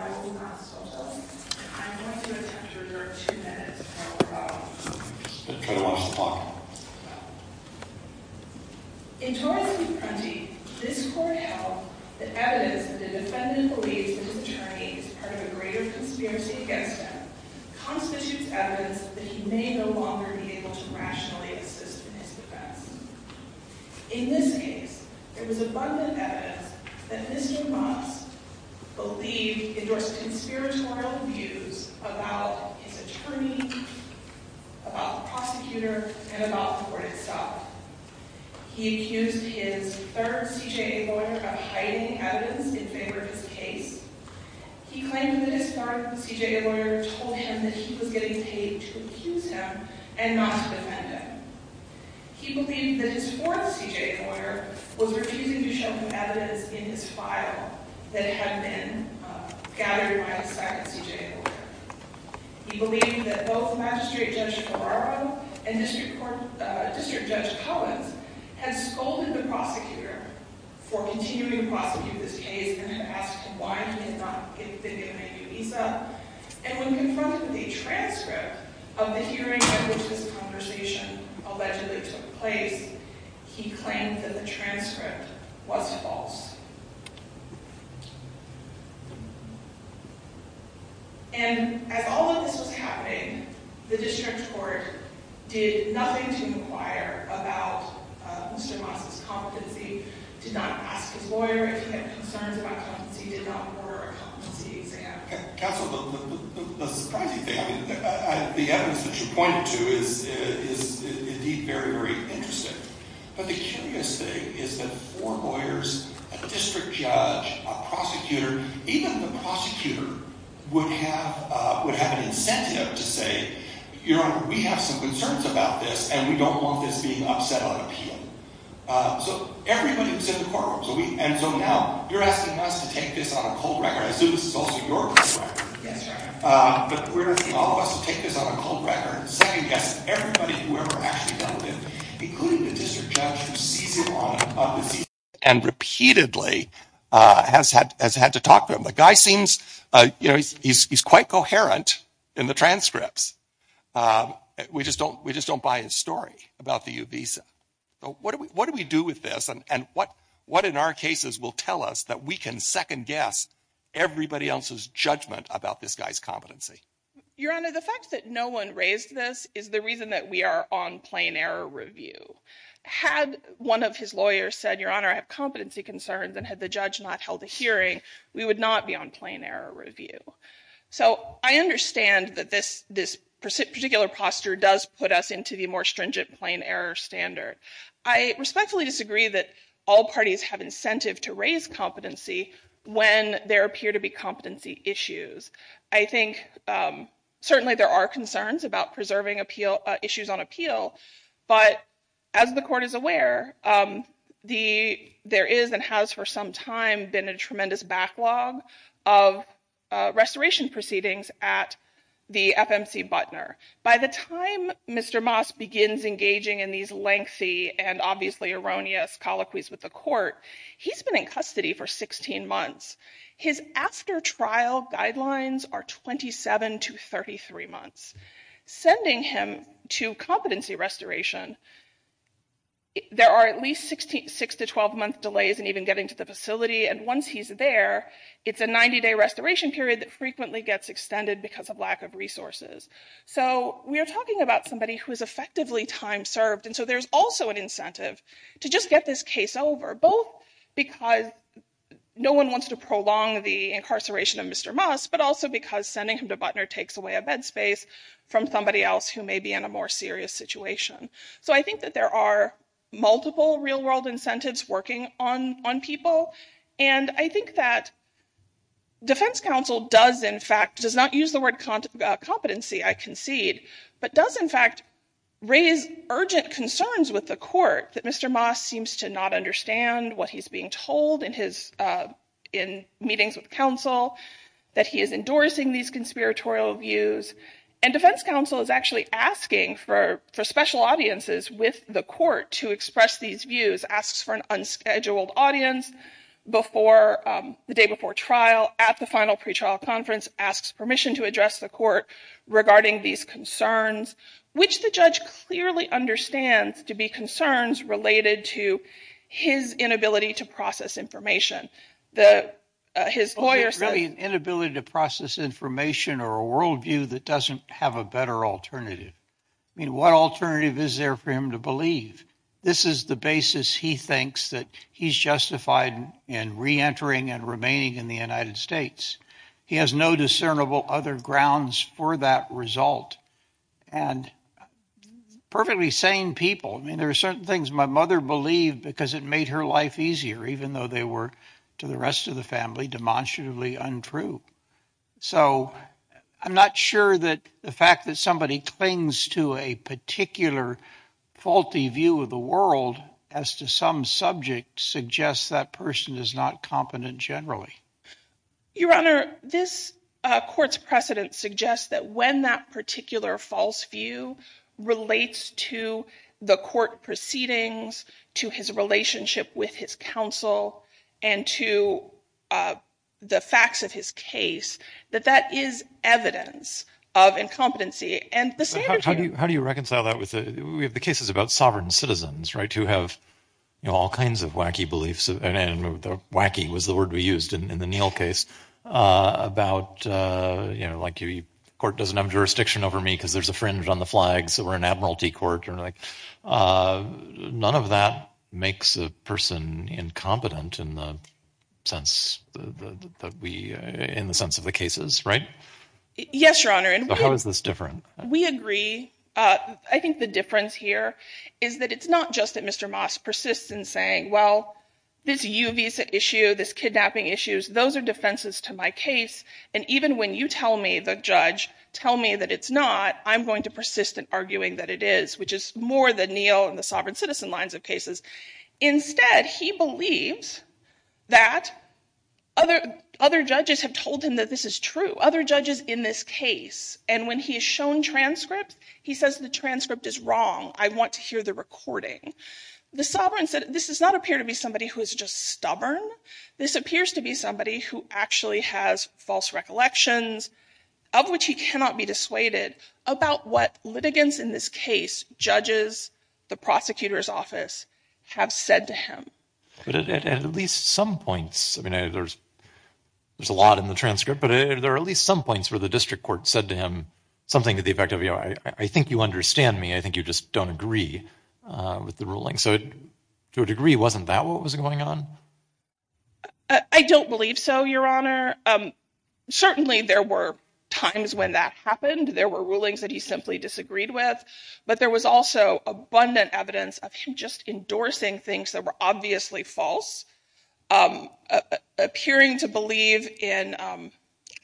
I'm going to attempt to revert two minutes from about 2 o'clock. In Torres v. Prenti, this court held that evidence that the defendant believes that his attorney is part of a greater conspiracy against him constitutes evidence that he may no longer be able to rationally assist in his defense. In this case, there was abundant evidence that Mr. Moss endorsed conspiratorial views about his attorney, about the prosecutor, and about the court itself. He accused his third CJA lawyer of hiding evidence in favor of his case. He claimed that his third CJA lawyer told him that he was getting paid to accuse him and not to defend him. He believed that his fourth CJA lawyer was refusing to show him evidence in his file that had been gathered by his second CJA lawyer. He believed that both Magistrate Judge Ferraro and District Judge Collins had scolded the prosecutor for continuing to prosecute this case and had asked him why he had not been given a new visa. And when confronted with a transcript of the hearing by which this conversation allegedly took place, he claimed that the transcript was false. And as all of this was happening, the district court did nothing to inquire about Mr. Moss's competency, did not ask his lawyer if he had concerns about competency, did not order a competency exam. Counsel, the surprising thing, the evidence that you pointed to is indeed very, very interesting. But the curious thing is that four lawyers, a district judge, a prosecutor, even the prosecutor would have an incentive to say, we have some concerns about this and we don't want this being upset on appeal. So everybody was in the courtroom. And so now you're asking us to take this on a cold record. I assume this is also your cold record. But we're asking all of us to take this on a cold record and second-guess everybody who ever actually dealt with it, including the district judge who sees it on the scene. And repeatedly has had to talk to him. The guy seems, you know, he's quite coherent in the transcripts. We just don't buy his story about the U visa. What do we do with this? And what in our cases will tell us that we can second-guess everybody else's judgment about this guy's competency? Your Honor, the fact that no one raised this is the reason that we are on plain error review. Had one of his lawyers said, Your Honor, I have competency concerns, and had the judge not held a hearing, we would not be on plain error review. So I understand that this particular posture does put us into the more stringent plain error standard. I respectfully disagree that all parties have incentive to raise competency when there appear to be competency issues. I think certainly there are concerns about preserving issues on appeal. But as the Court is aware, there is and has for some time been a tremendous backlog of restoration proceedings at the FMC Butner. By the time Mr. Moss begins engaging in these lengthy and obviously erroneous colloquies with the Court, he's been in custody for 16 months. His after-trial guidelines are 27 to 33 months. Sending him to competency restoration, there are at least 6 to 12-month delays in even getting to the facility. And once he's there, it's a 90-day restoration period that frequently gets extended because of lack of resources. So we are talking about somebody who is effectively time served. And so there's also an incentive to just get this case over, both because no one wants to prolong the incarceration of Mr. Moss, but also because sending him to Butner takes away a bed space from somebody else who may be in a more serious situation. So I think that there are multiple real-world incentives working on people. And I think that defense counsel does, in fact, does not use the word competency, I concede, but does, in fact, raise urgent concerns with the Court that Mr. Moss seems to not understand what he's being told in meetings with counsel, that he is endorsing these conspiratorial views. And defense counsel is actually asking for special audiences with the Court to express these views, asks for an unscheduled audience the day before trial at the final pretrial conference, asks permission to address the Court regarding these concerns, which the judge clearly understands to be concerns related to his inability to process information. His lawyer says— It's really an inability to process information or a worldview that doesn't have a better alternative. I mean, what alternative is there for him to believe? This is the basis he thinks that he's justified in reentering and remaining in the United States. He has no discernible other grounds for that result. And perfectly sane people. I mean, there are certain things my mother believed because it made her life easier, even though they were, to the rest of the family, demonstrably untrue. So I'm not sure that the fact that somebody clings to a particular faulty view of the world as to some subject suggests that person is not competent generally. Your Honor, this Court's precedent suggests that when that particular false view relates to the Court proceedings, to his relationship with his counsel, and to the facts of his case, that that is evidence of incompetency. How do you reconcile that? We have the cases about sovereign citizens, right, who have all kinds of wacky beliefs. Wacky was the word we used in the Neal case. About, you know, like, the Court doesn't have jurisdiction over me because there's a fringe on the flag, so we're an admiralty court. None of that makes a person incompetent in the sense of the cases, right? Yes, Your Honor. How is this different? We agree. I think the difference here is that it's not just that Mr. Moss persists in saying, well, this U visa issue, this kidnapping issue, those are defenses to my case, and even when you tell me, the judge, tell me that it's not, I'm going to persist in arguing that it is, which is more the Neal and the sovereign citizen lines of cases. Instead, he believes that other judges have told him that this is true. Other judges in this case. And when he is shown transcripts, he says the transcript is wrong. I want to hear the recording. The sovereign citizen, this does not appear to be somebody who is just stubborn. This appears to be somebody who actually has false recollections, of which he cannot be dissuaded, about what litigants in this case, judges, the prosecutor's office, have said to him. But at least some points, I mean, there's a lot in the transcript, but there are at least some points where the district court said to him something to the effect of, you know, I think you understand me. I think you just don't agree with the ruling. So to a degree, wasn't that what was going on? I don't believe so, Your Honor. Certainly, there were times when that happened. There were rulings that he simply disagreed with. But there was also abundant evidence of him just endorsing things that were obviously false. Appearing to believe in,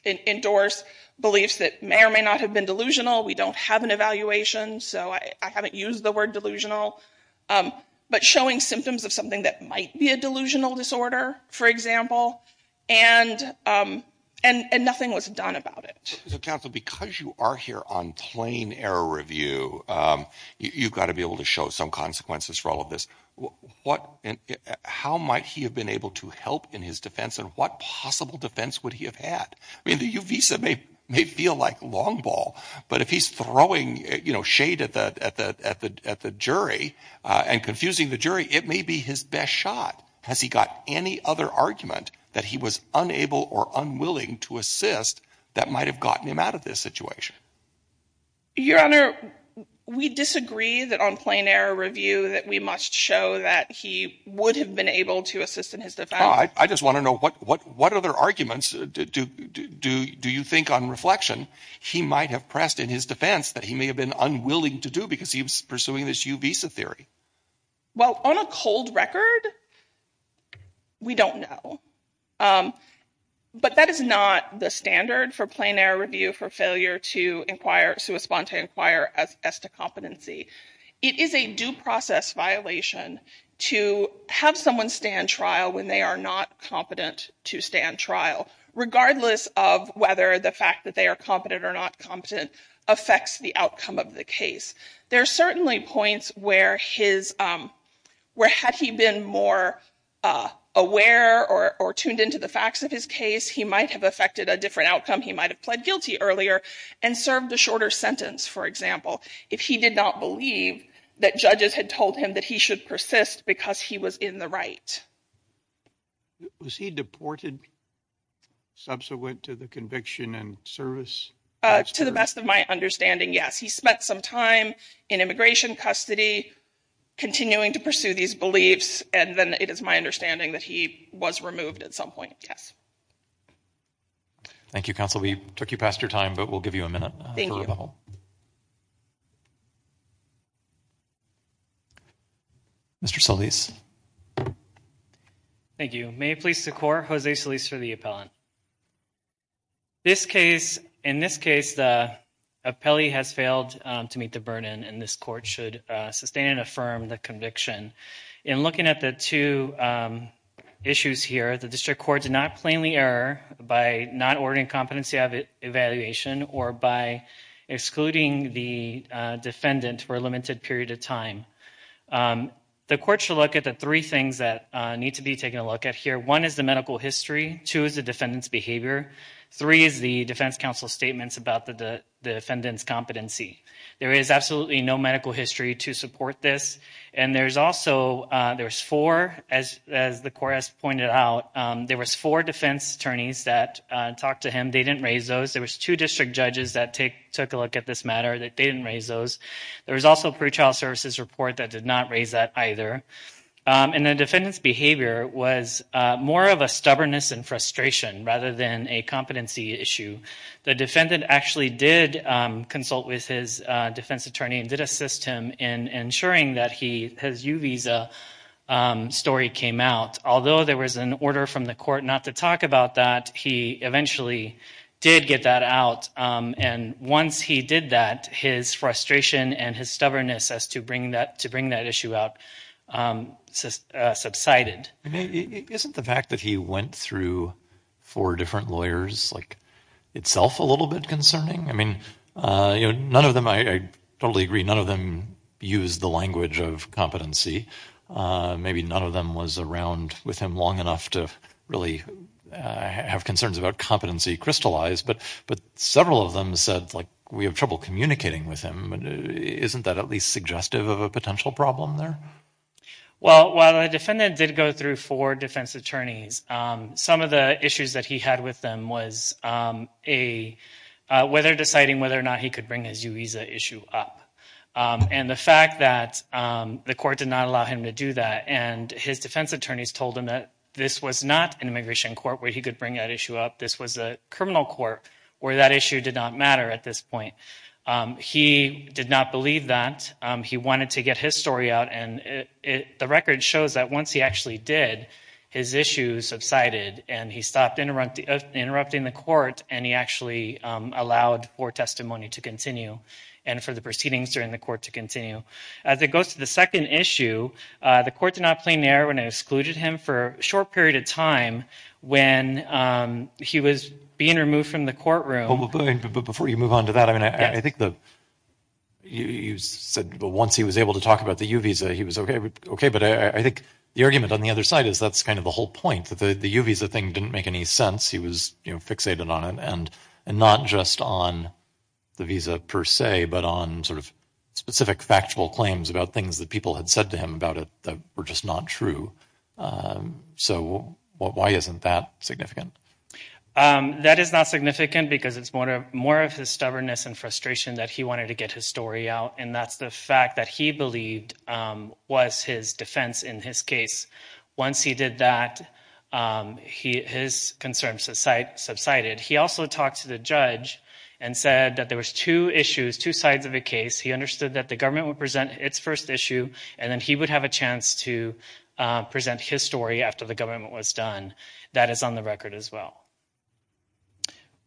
endorse beliefs that may or may not have been delusional. We don't have an evaluation, so I haven't used the word delusional. But showing symptoms of something that might be a delusional disorder, for example, and nothing was done about it. Counsel, because you are here on plain error review, you've got to be able to show some consequences for all of this. How might he have been able to help in his defense, and what possible defense would he have had? I mean, the Uvisa may feel like long ball, but if he's throwing shade at the jury and confusing the jury, it may be his best shot. Has he got any other argument that he was unable or unwilling to assist that might have gotten him out of this situation? Your Honor, we disagree that on plain error review that we must show that he would have been able to assist in his defense. I just want to know what other arguments do you think on reflection he might have pressed in his defense that he may have been unwilling to do because he was pursuing this Uvisa theory? Well, on a cold record, we don't know. But that is not the standard for plain error review for failure to inquire, to respond to inquire as to competency. It is a due process violation to have someone stand trial when they are not competent to stand trial, regardless of whether the fact that they are competent or not competent affects the outcome of the case. There are certainly points where his, where had he been more aware or tuned into the facts of his case, he might have affected a different outcome. He might have pled guilty earlier and served a shorter sentence, for example, if he did not believe that judges had told him that he should persist because he was in the right. Was he deported subsequent to the conviction and service? To the best of my understanding, yes. He spent some time in immigration custody, continuing to pursue these beliefs, and then it is my understanding that he was removed at some point. Yes. Thank you, counsel. We took you past your time, but we'll give you a minute for rebuttal. Thank you. Mr. Solis. Thank you. May it please the court, Jose Solis for the appellant. This case, in this case, the appellee has failed to meet the burden and this court should sustain and affirm the conviction. In looking at the two issues here, the district court did not plainly error by not ordering competency evaluation or by excluding the defendant for a limited period of time. The court should look at the three things that need to be taken a look at here. One is the medical history. This is the defendant's behavior. Three is the defense counsel's statements about the defendant's competency. There is absolutely no medical history to support this. And there's also, there's four, as the court has pointed out, there was four defense attorneys that talked to him. They didn't raise those. There was two district judges that took a look at this matter. They didn't raise those. There was also a pretrial services report that did not raise that either. And the defendant's behavior was more of a stubbornness and frustration rather than a competency issue. The defendant actually did consult with his defense attorney and did assist him in ensuring that his U visa story came out. Although there was an order from the court not to talk about that, he eventually did get that out. And once he did that, his frustration and his stubbornness as to bring that issue out subsided. Isn't the fact that he went through four different lawyers itself a little bit concerning? I mean, none of them, I totally agree, none of them used the language of competency. Maybe none of them was around with him long enough to really have concerns about competency crystallized. But several of them said, like, we have trouble communicating with him. Isn't that at least suggestive of a potential problem there? Well, while the defendant did go through four defense attorneys, some of the issues that he had with them was whether deciding whether or not he could bring his U visa issue up. And the fact that the court did not allow him to do that and his defense attorneys told him that this was not an immigration court where he could bring that issue up. This was a criminal court where that issue did not matter at this point. He did not believe that. He wanted to get his story out. And the record shows that once he actually did, his issues subsided and he stopped interrupting the court and he actually allowed for testimony to continue and for the proceedings during the court to continue. As it goes to the second issue, the court did not play an error when it excluded him for a short period of time when he was being removed from the courtroom. But before you move on to that, I mean, I think that you said once he was able to talk about the U visa, he was OK. But I think the argument on the other side is that's kind of the whole point, that the U visa thing didn't make any sense. He was fixated on it and not just on the visa per se, but on sort of specific factual claims about things that people had said to him about it that were just not true. So why isn't that significant? That is not significant because it's more of his stubbornness and frustration that he wanted to get his story out. And that's the fact that he believed was his defense in his case. Once he did that, his concerns subsided. He also talked to the judge and said that there was two issues, two sides of the case. He understood that the government would present its first issue and then he would have a chance to present his story after the government was done. That is on the record as well.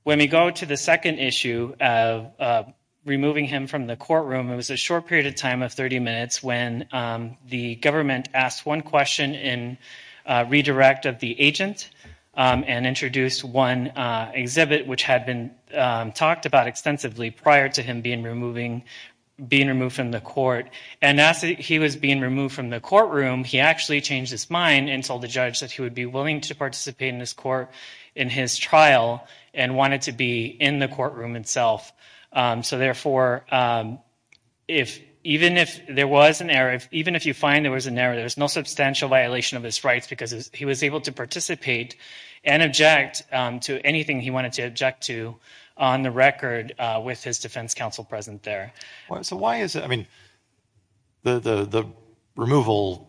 When we go to the second issue of removing him from the courtroom, it was a short period of time of 30 minutes when the government asked one question in redirect of the agent and introduced one exhibit which had been talked about extensively prior to him being removed from the court. And as he was being removed from the courtroom, he actually changed his mind and told the judge that he would be willing to participate in this court in his trial and wanted to be in the courtroom itself. So therefore, even if there was an error, even if you find there was an error, there's no substantial violation of his rights because he was able to participate and object to anything he wanted to object to on the record with his defense counsel present there. So why is it, I mean, the removal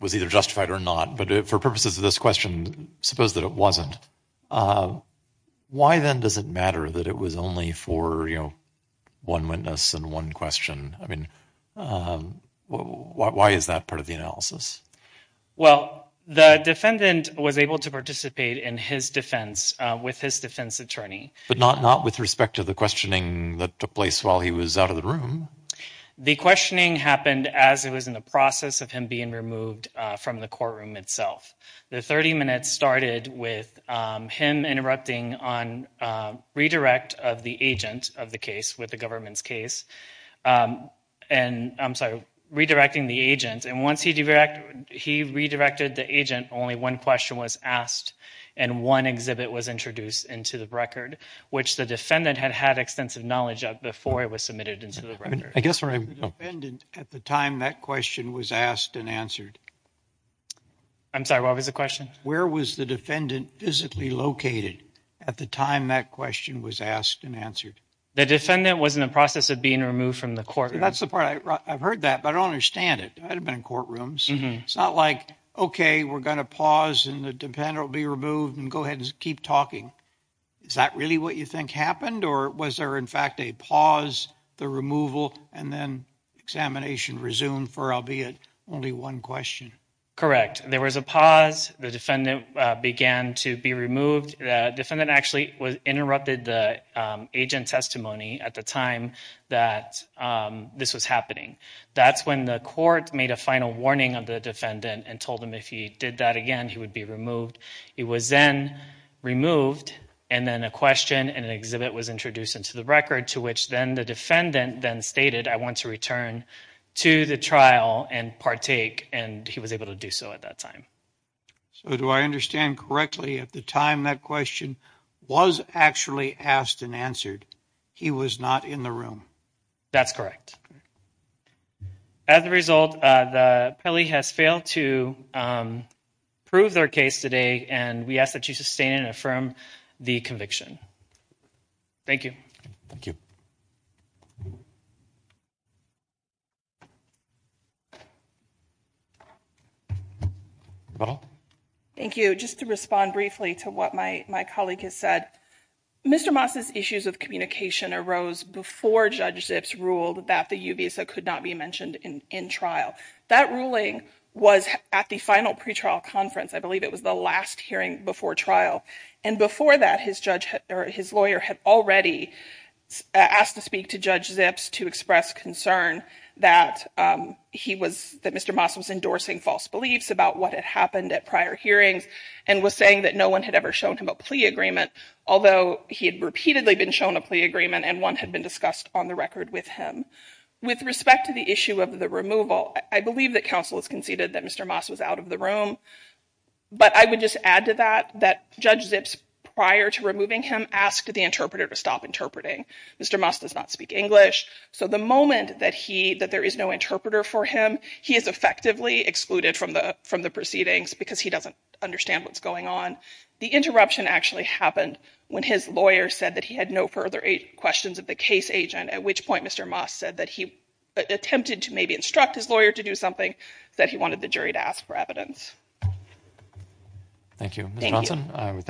was either justified or not, but for purposes of this question, suppose that it wasn't. Why then does it matter that it was only for one witness and one question? I mean, why is that part of the analysis? Well, the defendant was able to participate in his defense with his defense attorney. But not with respect to the questioning that took place when he was out of the room. The questioning happened as it was in the process of him being removed from the courtroom itself. The 30 minutes started with him interrupting on redirect of the agent of the case with the government's case. And I'm sorry, redirecting the agent. And once he redirected the agent, only one question was asked and one exhibit was introduced into the record, which the defendant had had extensive knowledge of and submitted into the record. Where was the defendant at the time that question was asked and answered? I'm sorry, what was the question? Where was the defendant physically located at the time that question was asked and answered? The defendant was in the process of being removed from the courtroom. That's the part, I've heard that, but I don't understand it. I haven't been in courtrooms. It's not like, okay, we're going to pause and the defendant will be removed and go ahead and keep talking. Is that really what you think happened? Or was there in fact a pause, the removal, and then examination resumed for albeit only one question? Correct. There was a pause. The defendant began to be removed. The defendant actually interrupted the agent's testimony at the time that this was happening. That's when the court made a final warning of the defendant and told him if he did that again, he would be removed. He was then removed and then a question and an exhibit was introduced into the record to which then the defendant then stated, I want to return to the trial and partake, and he was able to do so at that time. So do I understand correctly, at the time that question was actually asked and answered, he was not in the room? That's correct. As a result, the appellee has failed to prove their case today, and we ask that you sustain and affirm the conviction. Thank you. Thank you. Thank you. Just to respond briefly to what my colleague has said, Mr. Moss's issues of communication arose before Judge Zips ruled that the UBISA could not be mentioned in trial. That ruling was at the final pretrial conference. I believe it was the last hearing before trial, and before that, his lawyer had already asked to speak to Judge Zips to express concern that Mr. Moss was endorsing false beliefs about what had happened at prior hearings and was saying that no one had ever shown him a plea agreement, although he had repeatedly been shown a plea agreement and one had been discussed on the record with him. With respect to the issue of the removal, I believe that counsel has conceded that Mr. Moss was out of the room, but I would just add to that that Judge Zips, prior to removing him, asked the interpreter to stop interpreting. Mr. Moss does not speak English, so the moment that there is no interpreter for him, he is effectively excluded from the proceedings because he doesn't understand what's going on. The interruption actually happened when his lawyer said that he had no further questions of the case agent, at which point Mr. Moss said that he attempted to maybe instruct his lawyer to do something, but he said that he wanted the jury to ask for evidence. Thank you, Ms. Johnson. Thank you.